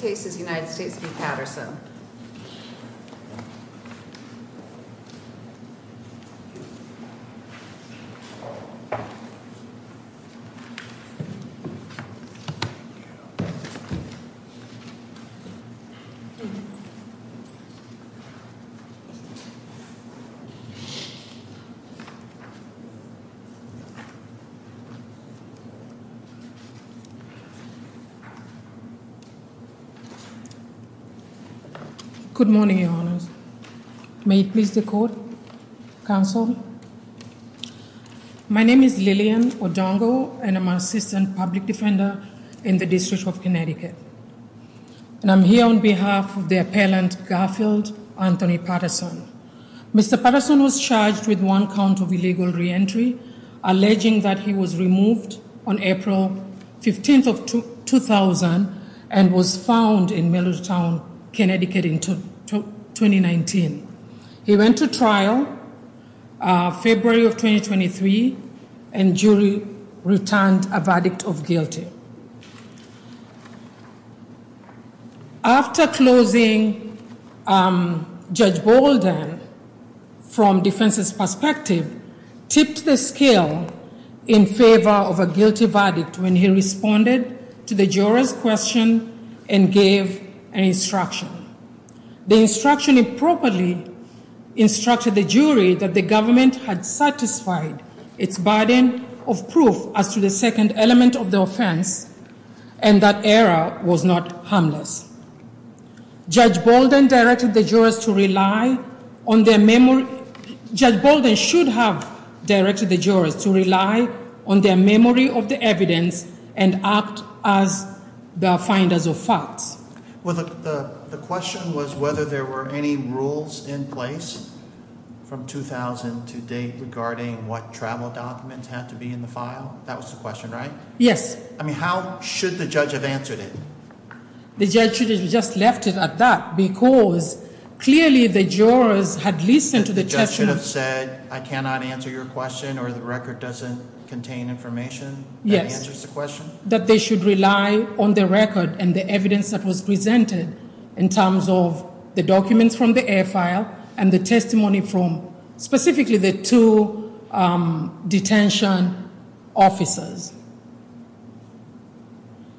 This case is United States v. Patterson. Good morning, your honors. May it please the court, counsel. My name is Lillian Odongo, and I'm an assistant public defender in the District of Connecticut. And I'm here on behalf of the appellant Garfield Anthony Patterson. Mr. Patterson was charged with one count of illegal reentry, alleging that he was removed on April 15th of 2000 and was found in Middletown, Connecticut in 2019. He went to trial February of 2023 and jury returned a verdict of guilty. After closing, Judge Bolden, from defense's perspective, tipped the scale in favor of a guilty verdict when he responded to the juror's question and gave an instruction. The instruction improperly instructed the jury that the government had satisfied its burden of proof as to the second element of the offense and that error was not harmless. Judge Bolden should have directed the jurors to rely on their memory of the evidence and act as the finders of facts. Well, the question was whether there were any rules in place from 2000 to date regarding what travel documents had to be in the file. That was the question, right? Yes. I mean, how should the judge have answered it? The judge should have just left it at that because clearly the jurors had listened to the testimony. The judge should have said, I cannot answer your question or the record doesn't contain information that answers the question? That they should rely on the record and the evidence that was presented in terms of the documents from the air file and the testimony from specifically the two detention officers.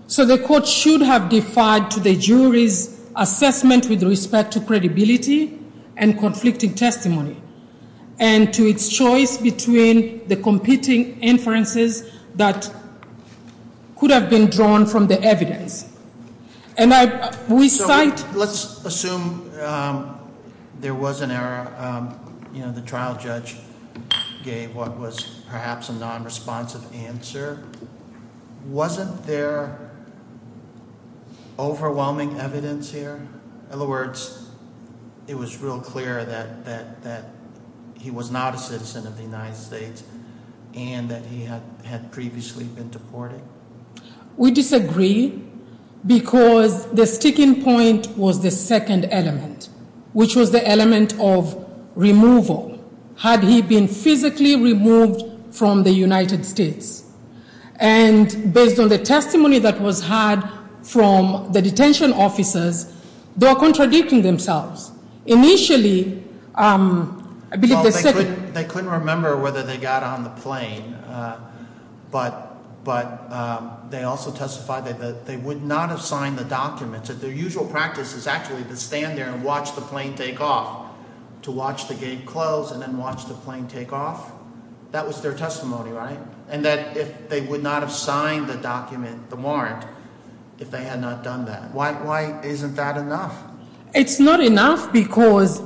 So the court should have defied to the jury's assessment with respect to credibility and conflicting testimony and to its choice between the competing inferences that could have been drawn from the evidence. Let's assume there was an error. The trial judge gave what was perhaps a non-responsive answer. Wasn't there overwhelming evidence here? In other words, it was real clear that he was not a citizen of the United States and that he had previously been deported? We disagree because the sticking point was the second element, which was the element of removal. Had he been physically removed from the United States? And based on the testimony that was heard from the detention officers, they are contradicting themselves. Well, they couldn't remember whether they got on the plane, but they also testified that they would not have signed the documents. Their usual practice is actually to stand there and watch the plane take off, to watch the gate close and then watch the plane take off. That was their testimony, right? And that they would not have signed the document, the warrant, if they had not done that. Why isn't that enough? It's not enough because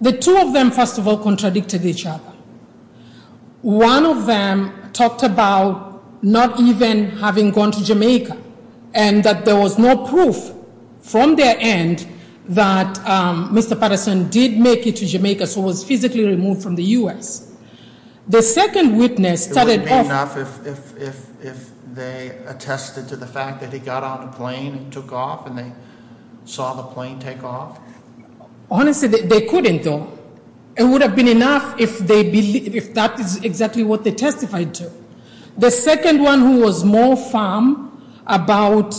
the two of them, first of all, contradicted each other. One of them talked about not even having gone to Jamaica and that there was no proof from their end that Mr. Patterson did make it to Jamaica, so was physically removed from the U.S. The second witness started off- It wouldn't be enough if they attested to the fact that he got on the plane and took off and they saw the plane take off? Honestly, they couldn't, though. It would have been enough if that is exactly what they testified to. The second one who was more firm about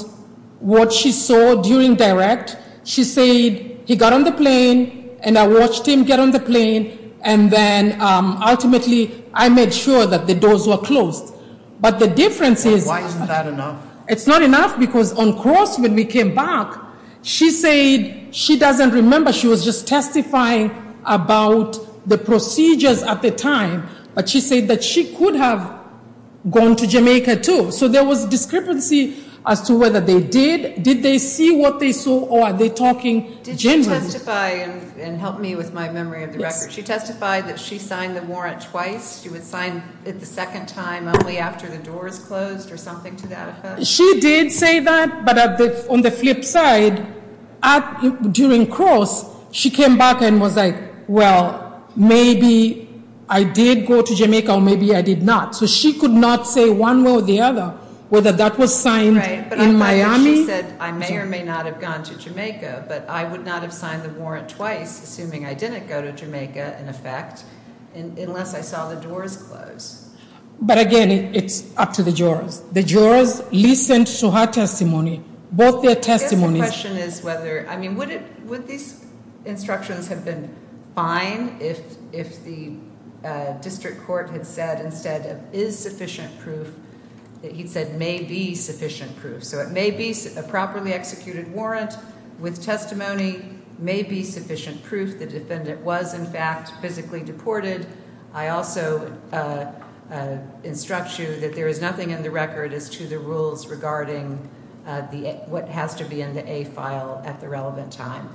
what she saw during direct, she said he got on the plane and I watched him get on the plane and then ultimately I made sure that the doors were closed. But the difference is- Why isn't that enough? It's not enough because on cross when we came back, she said she doesn't remember. She was just testifying about the procedures at the time, but she said that she could have gone to Jamaica, too. So there was discrepancy as to whether they did. Did they see what they saw or are they talking genuinely? Did she testify and help me with my memory of the record? Yes. She testified that she signed the warrant twice. She would sign it the second time only after the doors closed or something to that effect? She did say that, but on the flip side, during cross, she came back and was like, well, maybe I did go to Jamaica or maybe I did not. So she could not say one way or the other whether that was signed in Miami. She said I may or may not have gone to Jamaica, but I would not have signed the warrant twice, assuming I didn't go to Jamaica, in effect, unless I saw the doors closed. But, again, it's up to the jurors. The jurors listened to her testimony, both their testimonies. I guess the question is whether, I mean, would these instructions have been fine if the district court had said instead of is sufficient proof, he said may be sufficient proof. So it may be a properly executed warrant with testimony, may be sufficient proof the defendant was, in fact, physically deported. I also instruct you that there is nothing in the record as to the rules regarding what has to be in the A file at the relevant time.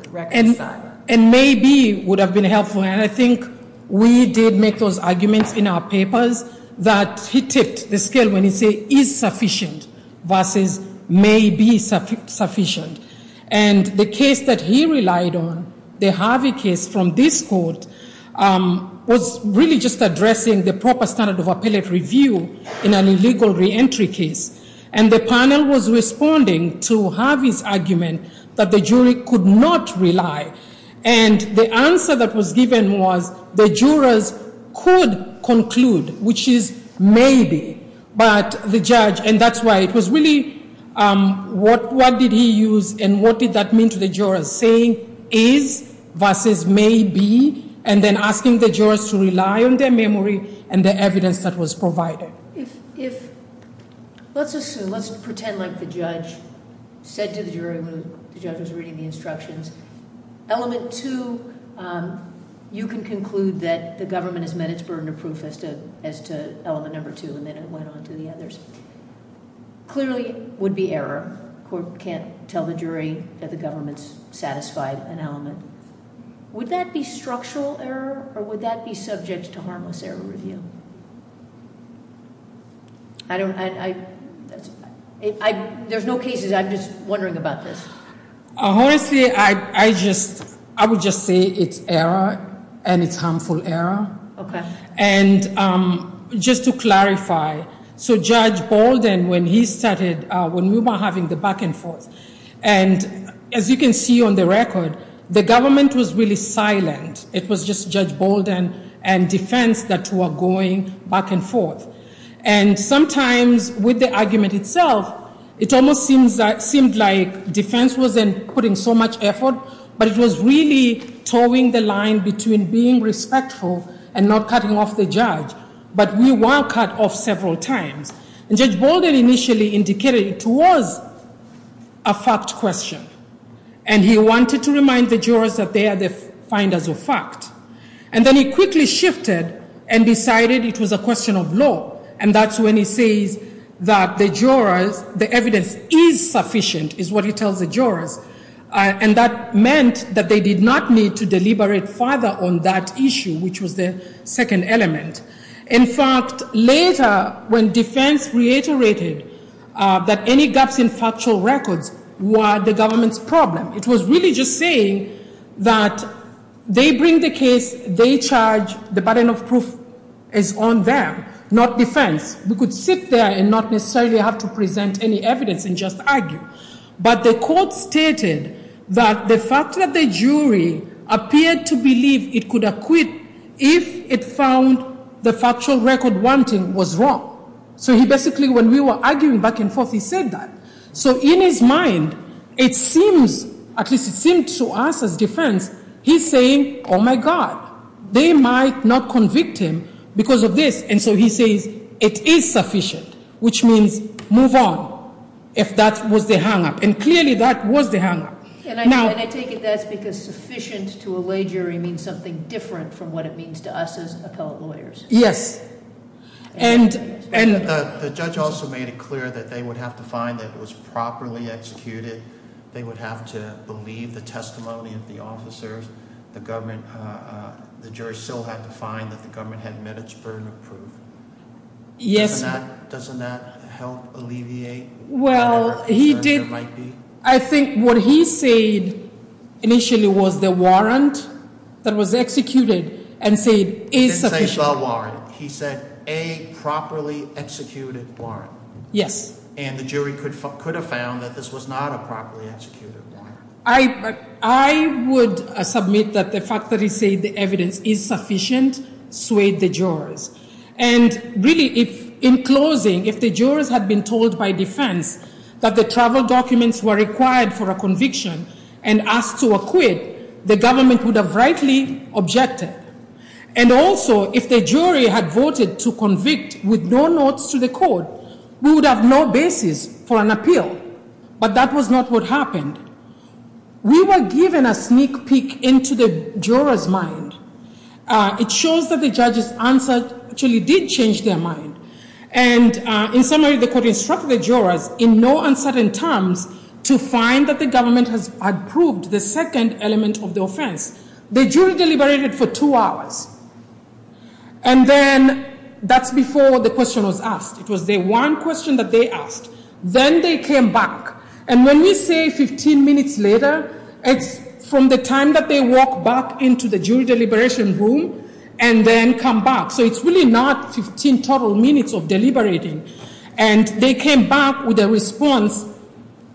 And may be would have been helpful. And I think we did make those arguments in our papers that he ticked the scale when he said is sufficient versus may be sufficient. And the case that he relied on, the Harvey case from this court, was really just addressing the proper standard of appellate review in an illegal reentry case. And the panel was responding to Harvey's argument that the jury could not rely. And the answer that was given was the jurors could conclude, which is may be. But the judge, and that's why it was really, what did he use and what did that mean to the jurors? Saying is versus may be and then asking the jurors to rely on their memory and the evidence that was provided. If, let's assume, let's pretend like the judge said to the jury when the judge was reading the instructions. Element two, you can conclude that the government has met its burden of proof as to element number two. And then it went on to the others. Clearly would be error. Court can't tell the jury that the government's satisfied an element. Would that be structural error or would that be subject to harmless error review? I don't, there's no cases. I'm just wondering about this. Honestly, I just, I would just say it's error and it's harmful error. Okay. And just to clarify, so Judge Bolden, when he started, when we were having the back and forth, and as you can see on the record, the government was really silent. It was just Judge Bolden and defense that were going back and forth. And sometimes with the argument itself, it almost seemed like defense wasn't putting so much effort, but it was really towing the line between being respectful and not cutting off the judge. But we were cut off several times. And Judge Bolden initially indicated it was a fact question. And he wanted to remind the jurors that they are the finders of fact. And then he quickly shifted and decided it was a question of law. And that's when he says that the jurors, the evidence is sufficient, is what he tells the jurors. And that meant that they did not need to deliberate further on that issue, which was the second element. In fact, later when defense reiterated that any gaps in factual records were the government's problem, it was really just saying that they bring the case, they charge, the burden of proof is on them, not defense. We could sit there and not necessarily have to present any evidence and just argue. But the court stated that the fact that the jury appeared to believe it could acquit if it found the factual record wanting was wrong. So he basically, when we were arguing back and forth, he said that. So in his mind, it seems, at least it seemed to us as defense, he's saying, oh my God. They might not convict him because of this. And so he says it is sufficient, which means move on if that was the hang up. And clearly that was the hang up. And I take it that's because sufficient to allege jury means something different from what it means to us as appellate lawyers. Yes. The judge also made it clear that they would have to find that it was properly executed. They would have to believe the testimony of the officers. The jury still had to find that the government had met its burden of proof. Yes. Doesn't that help alleviate the burden there might be? I think what he said initially was the warrant that was executed and said is sufficient. The warrant. He said a properly executed warrant. Yes. And the jury could have found that this was not a properly executed warrant. I would submit that the fact that he said the evidence is sufficient swayed the jurors. And really, in closing, if the jurors had been told by defense that the travel documents were required for a conviction and asked to acquit, the government would have rightly objected. And also, if the jury had voted to convict with no notes to the court, we would have no basis for an appeal. But that was not what happened. We were given a sneak peek into the jurors' mind. It shows that the judge's answer actually did change their mind. And in summary, the court instructed the jurors in no uncertain terms to find that the government had proved the second element of the offense. The jury deliberated for two hours. And then that's before the question was asked. It was the one question that they asked. Then they came back. And when we say 15 minutes later, it's from the time that they walked back into the jury deliberation room and then come back. So it's really not 15 total minutes of deliberating. And they came back with a response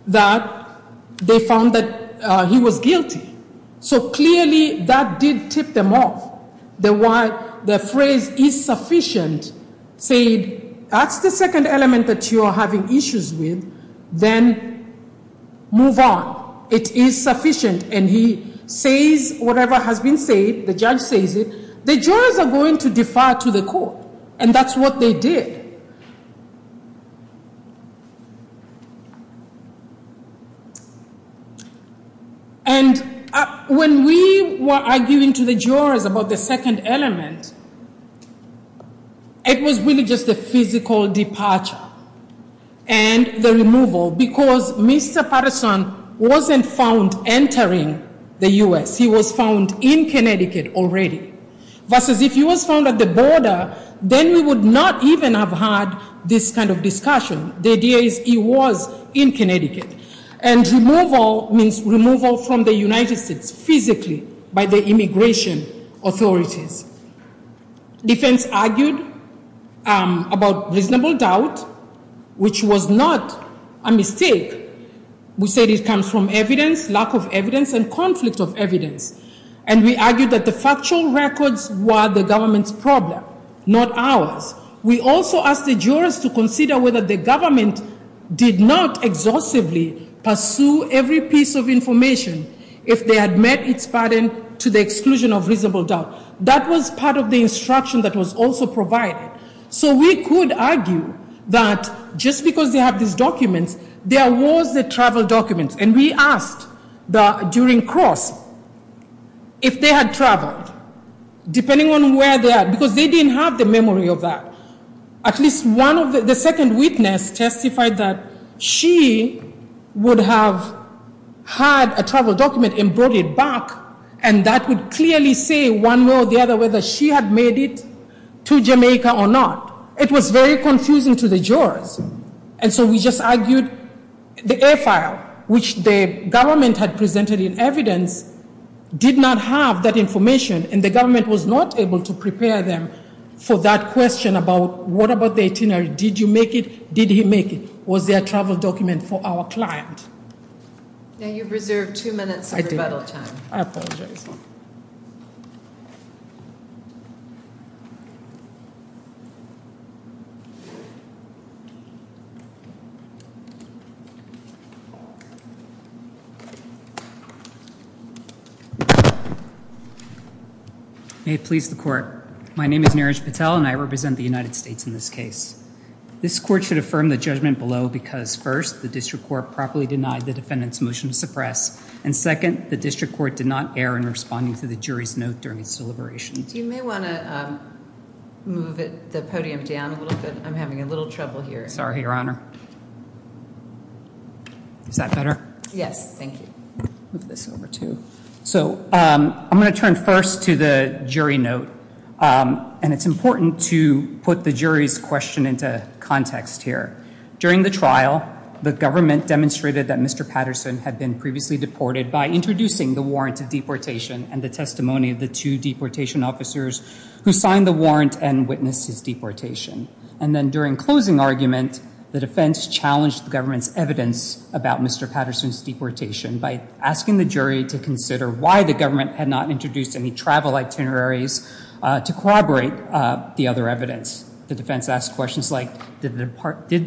that they found that he was guilty. So clearly, that did tip them off. The phrase, is sufficient, said, that's the second element that you are having issues with. Then move on. It is sufficient. And he says whatever has been said. The judge says it. The jurors are going to defer to the court. And that's what they did. And when we were arguing to the jurors about the second element, it was really just a physical departure. And the removal. Because Mr. Patterson wasn't found entering the U.S. He was found in Connecticut already. Versus if he was found at the border, then we would not even have had this kind of discussion. The idea is he was in Connecticut. And removal means removal from the United States physically by the immigration authorities. Defense argued about reasonable doubt, which was not a mistake. We said it comes from evidence, lack of evidence, and conflict of evidence. And we argued that the factual records were the government's problem, not ours. We also asked the jurors to consider whether the government did not exhaustively pursue every piece of information if they had met its pardon to the exclusion of reasonable doubt. That was part of the instruction that was also provided. So we could argue that just because they have these documents, there was the travel documents. And we asked during cross if they had traveled, depending on where they are. Because they didn't have the memory of that. At least one of the second witness testified that she would have had a travel document and brought it back. And that would clearly say one way or the other whether she had made it to Jamaica or not. It was very confusing to the jurors. And so we just argued the air file, which the government had presented in evidence, did not have that information. And the government was not able to prepare them for that question about what about the itinerary? Did you make it? Did he make it? Was there a travel document for our client? Now you've reserved two minutes for rebuttal time. I apologize. May it please the court. My name is Neeraj Patel and I represent the United States in this case. This court should affirm the judgment below because first, the district court properly denied the defendant's motion to suppress. And second, the district court did not err in responding to the jury's note during its deliberations. You may want to move the podium down a little bit. I'm having a little trouble here. Sorry, Your Honor. Is that better? Yes, thank you. Move this over too. So I'm going to turn first to the jury note. And it's important to put the jury's question into context here. During the trial, the government demonstrated that Mr. Patterson had been previously deported by introducing the warrant of deportation and the testimony of the two deportation officers who signed the warrant and witnessed his deportation. And then during closing argument, the defense challenged the government's evidence about Mr. Patterson's deportation by asking the jury to consider why the government had not introduced any travel itineraries to corroborate the other evidence. The defense asked questions like, did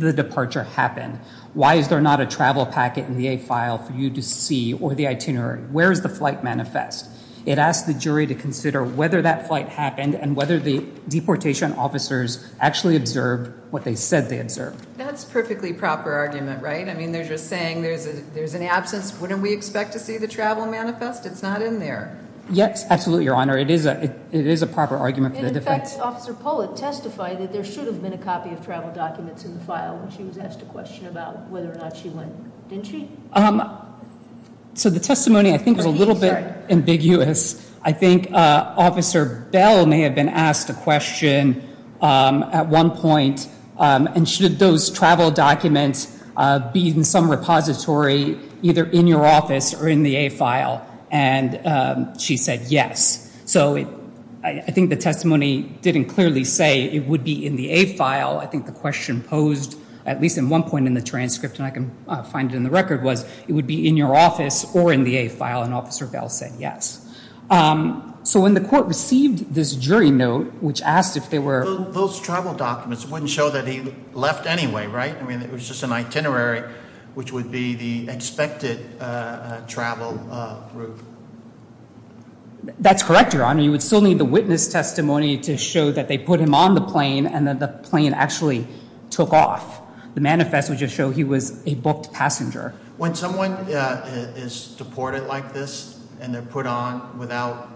the departure happen? Why is there not a travel packet in the A file for you to see or the itinerary? Where is the flight manifest? It asked the jury to consider whether that flight happened and whether the deportation officers actually observed what they said they observed. That's a perfectly proper argument, right? I mean, they're just saying there's an absence. Wouldn't we expect to see the travel manifest? It's not in there. Yes, absolutely, Your Honor. It is a proper argument for the defense. In fact, Officer Pollitt testified that there should have been a copy of travel documents in the file when she was asked a question about whether or not she went. Didn't she? So the testimony, I think, is a little bit ambiguous. I think Officer Bell may have been asked a question at one point. And should those travel documents be in some repository either in your office or in the A file? And she said yes. So I think the testimony didn't clearly say it would be in the A file. I think the question posed at least at one point in the transcript, and I can find it in the record, was it would be in your office or in the A file. And Officer Bell said yes. So when the court received this jury note, which asked if there were— Those travel documents wouldn't show that he left anyway, right? I mean, it was just an itinerary, which would be the expected travel route. That's correct, Your Honor. You would still need the witness testimony to show that they put him on the plane and that the plane actually took off. The manifest would just show he was a booked passenger. When someone is deported like this and they're put on without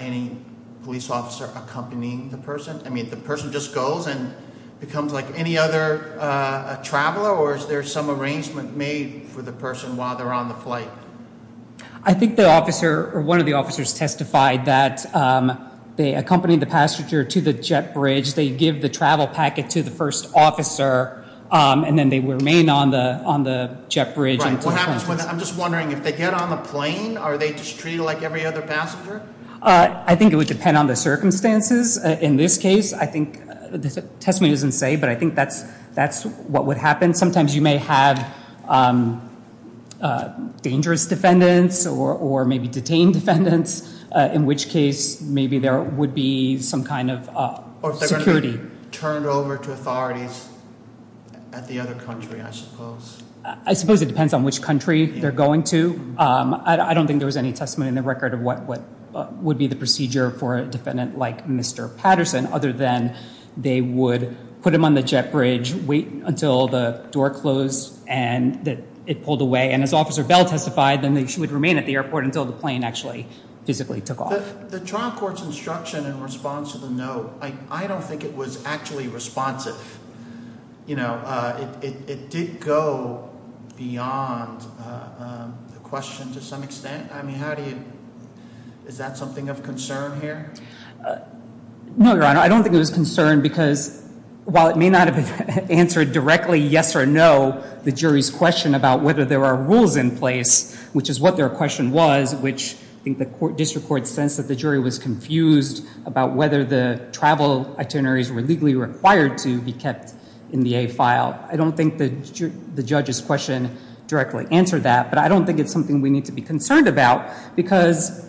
any police officer accompanying the person, I mean, the person just goes and becomes like any other traveler? Or is there some arrangement made for the person while they're on the flight? I think one of the officers testified that they accompanied the passenger to the jet bridge. They give the travel packet to the first officer, and then they remain on the jet bridge. Right. What happens when—I'm just wondering, if they get on the plane, are they just treated like every other passenger? I think it would depend on the circumstances. In this case, I think the testimony doesn't say, but I think that's what would happen. Sometimes you may have dangerous defendants or maybe detained defendants, in which case maybe there would be some kind of security. Or if they're going to be turned over to authorities at the other country, I suppose. I suppose it depends on which country they're going to. I don't think there was any testimony in the record of what would be the procedure for a defendant like Mr. Patterson, other than they would put him on the jet bridge, wait until the door closed and it pulled away. And if Officer Bell testified, then she would remain at the airport until the plane actually physically took off. The trial court's instruction in response to the note, I don't think it was actually responsive. It did go beyond the question to some extent. I mean, how do you—is that something of concern here? No, Your Honor. I don't think it was concern because while it may not have answered directly yes or no the jury's question about whether there were rules in place, which is what their question was, which I think the district court sensed that the jury was confused about whether the travel itineraries were legally required to be kept in the A file. I don't think the judge's question directly answered that. But I don't think it's something we need to be concerned about because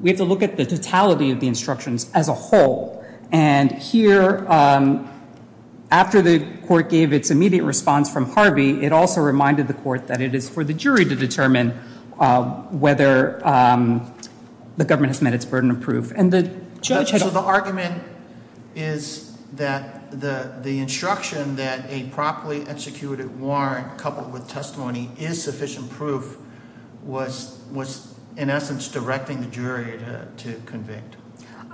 we have to look at the totality of the instructions as a whole. And here, after the court gave its immediate response from Harvey, it also reminded the court that it is for the jury to determine whether the government has met its burden of proof. And the judge had— So the argument is that the instruction that a properly executed warrant coupled with testimony is sufficient proof was in essence directing the jury to convict.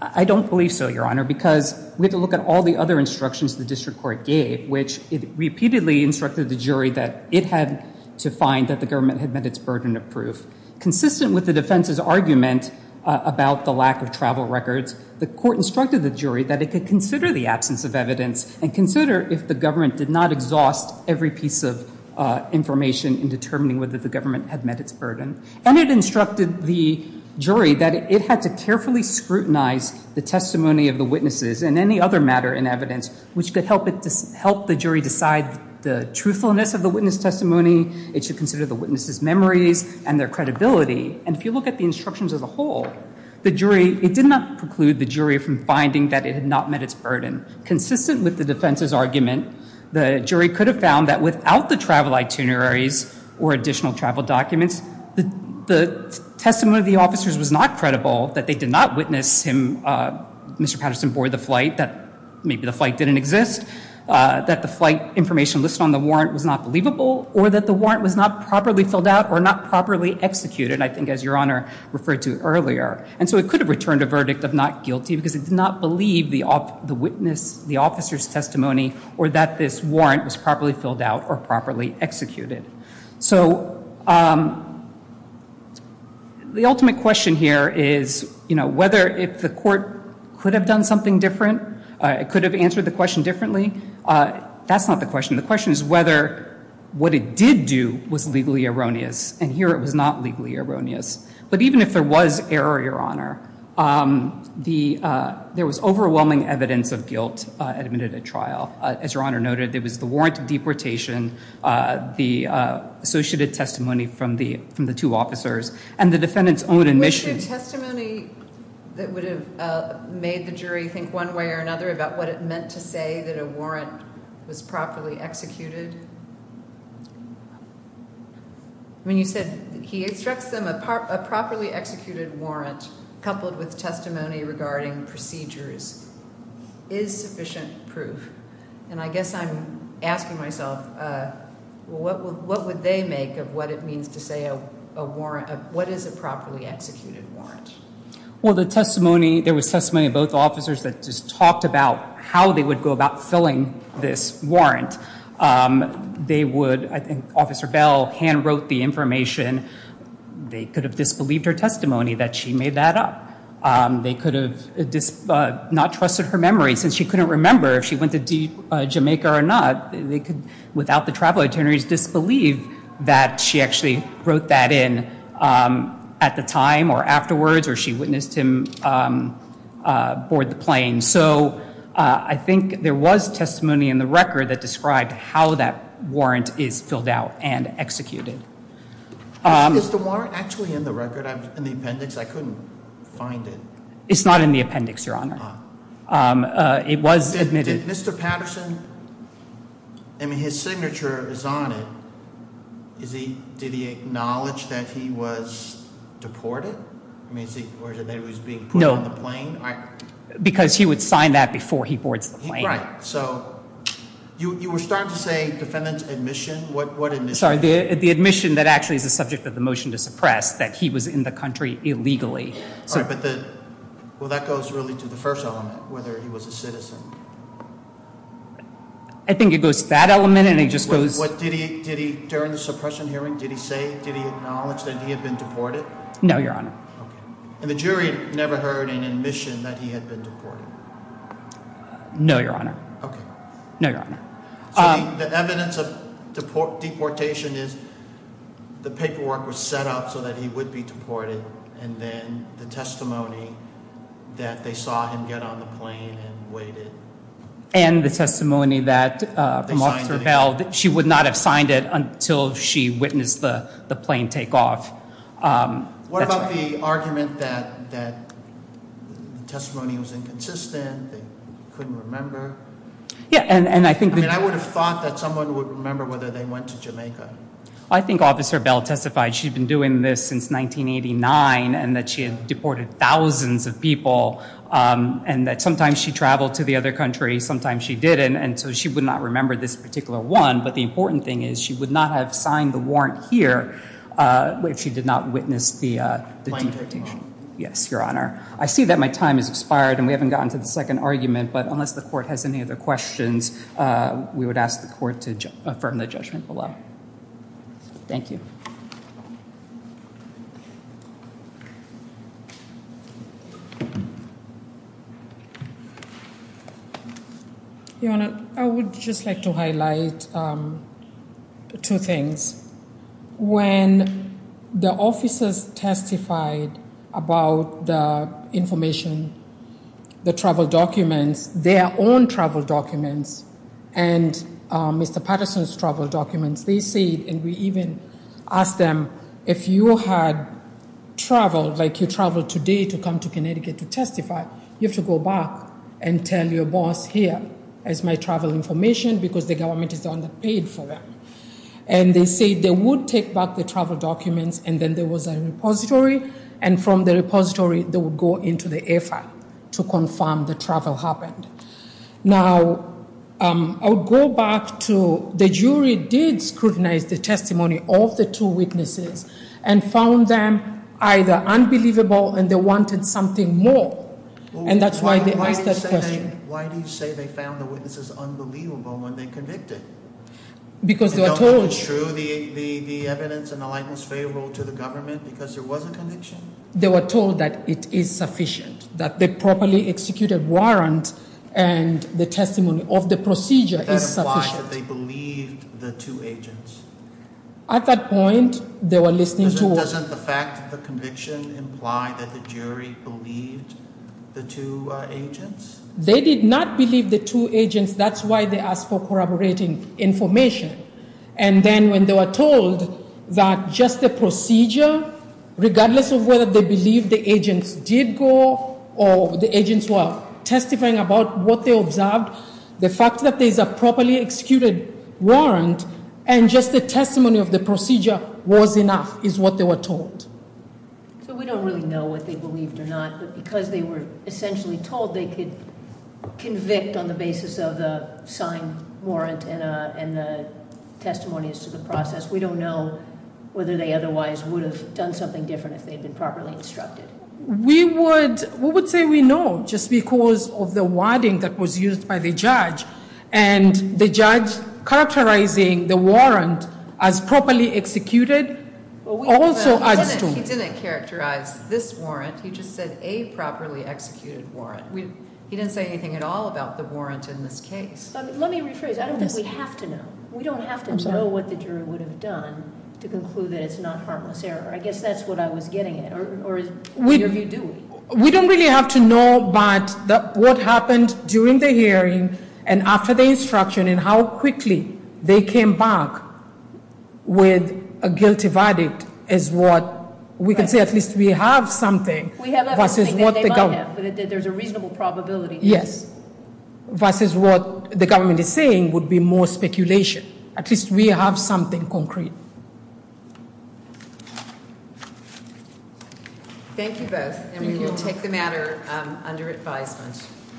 I don't believe so, Your Honor, because we have to look at all the other instructions the district court gave, which it repeatedly instructed the jury that it had to find that the government had met its burden of proof. Consistent with the defense's argument about the lack of travel records, the court instructed the jury that it could consider the absence of evidence and consider if the government did not exhaust every piece of information in determining whether the government had met its burden. And it instructed the jury that it had to carefully scrutinize the testimony of the witnesses and any other matter in evidence which could help the jury decide the truthfulness of the witness testimony. It should consider the witnesses' memories and their credibility. And if you look at the instructions as a whole, it did not preclude the jury from finding that it had not met its burden. Consistent with the defense's argument, the jury could have found that without the travel itineraries or additional travel documents, the testimony of the officers was not credible, that they did not witness him, Mr. Patterson, board the flight, that maybe the flight didn't exist, that the flight information listed on the warrant was not believable, or that the warrant was not properly filled out or not properly executed, I think as Your Honor referred to earlier. And so it could have returned a verdict of not guilty because it did not believe the witness, the officer's testimony, or that this warrant was properly filled out or properly executed. So the ultimate question here is, you know, whether if the court could have done something different, could have answered the question differently, that's not the question. The question is whether what it did do was legally erroneous. And here it was not legally erroneous. But even if there was error, Your Honor, there was overwhelming evidence of guilt admitted at trial. As Your Honor noted, there was the warrant of deportation, the associated testimony from the two officers, and the defendant's own admission. Was there testimony that would have made the jury think one way or another about what it meant to say that a warrant was properly executed? I mean, you said he extracts them a properly executed warrant coupled with testimony regarding procedures. Is sufficient proof? And I guess I'm asking myself, what would they make of what it means to say a warrant, what is a properly executed warrant? Well, the testimony, there was testimony of both officers that just talked about how they would go about filling this warrant. They would, I think Officer Bell hand wrote the information. They could have disbelieved her testimony that she made that up. They could have not trusted her memory since she couldn't remember if she went to Jamaica or not. They could, without the travel itineraries, disbelieve that she actually wrote that in at the time or afterwards, or she witnessed him board the plane. So I think there was testimony in the record that described how that warrant is filled out and executed. Is the warrant actually in the record, in the appendix? I couldn't find it. It's not in the appendix, Your Honor. It was admitted. Did Mr. Patterson, I mean, his signature is on it. Did he acknowledge that he was deported? Or that he was being put on the plane? No, because he would sign that before he boards the plane. Right, so you were starting to say defendant's admission, what admission? Sorry, the admission that actually is the subject of the motion to suppress, that he was in the country illegally. Well, that goes really to the first element, whether he was a citizen. I think it goes to that element and it just goes. During the suppression hearing, did he say, did he acknowledge that he had been deported? No, Your Honor. And the jury never heard an admission that he had been deported? No, Your Honor. No, Your Honor. So the evidence of deportation is the paperwork was set up so that he would be deported. And then the testimony that they saw him get on the plane and waited. And the testimony that she would not have signed it until she witnessed the plane take off. What about the argument that the testimony was inconsistent, they couldn't remember? Yeah, and I think. I mean, I would have thought that someone would remember whether they went to Jamaica. I think Officer Bell testified she had been doing this since 1989 and that she had deported thousands of people. And that sometimes she traveled to the other country, sometimes she didn't. And so she would not remember this particular one. But the important thing is she would not have signed the warrant here if she did not witness the deportation. Yes, Your Honor. I see that my time has expired and we haven't gotten to the second argument. But unless the court has any other questions, we would ask the court to affirm the judgment below. Thank you. Your Honor, I would just like to highlight two things. When the officers testified about the information, the travel documents, their own travel documents, and Mr. Patterson's travel documents, they said, and we even asked them, if you had traveled, like you traveled today to come to Connecticut to testify, you have to go back and tell your boss here is my travel information because the government is underpaid for that. And they said they would take back the travel documents, and then there was a repository, and from the repository they would go into the air file to confirm the travel happened. Now, I'll go back to the jury did scrutinize the testimony of the two witnesses and found them either unbelievable and they wanted something more. And that's why they asked that question. Why do you say they found the witnesses unbelievable when they convicted? Because they were told. And don't they hold true the evidence and the likeness favorable to the government because there was a conviction? They were told that it is sufficient, that the properly executed warrant and the testimony of the procedure is sufficient. That implies that they believed the two agents. At that point, they were listening to us. Doesn't the fact of the conviction imply that the jury believed the two agents? They did not believe the two agents. That's why they asked for corroborating information. And then when they were told that just the procedure, regardless of whether they believed the agents did go or the agents were testifying about what they observed, the fact that there is a properly executed warrant and just the testimony of the procedure was enough is what they were told. So we don't really know what they believed or not, but because they were essentially told they could convict on the basis of the signed warrant and the testimonies to the process, we don't know whether they otherwise would have done something different if they had been properly instructed. We would say we know just because of the wording that was used by the judge. And the judge characterizing the warrant as properly executed also adds to- He didn't characterize this warrant. He just said a properly executed warrant. He didn't say anything at all about the warrant in this case. Let me rephrase. I don't think we have to know. We don't have to know what the jury would have done to conclude that it's not harmless error. I guess that's what I was getting at. Or neither of you do. We don't really have to know, but what happened during the hearing and after the instruction and how quickly they came back with a guilty verdict is what we can say at least we have something. We have everything that they might have, but there's a reasonable probability. Yes. Versus what the government is saying would be more speculation. At least we have something concrete. Thank you both, and we will take the matter under advisement.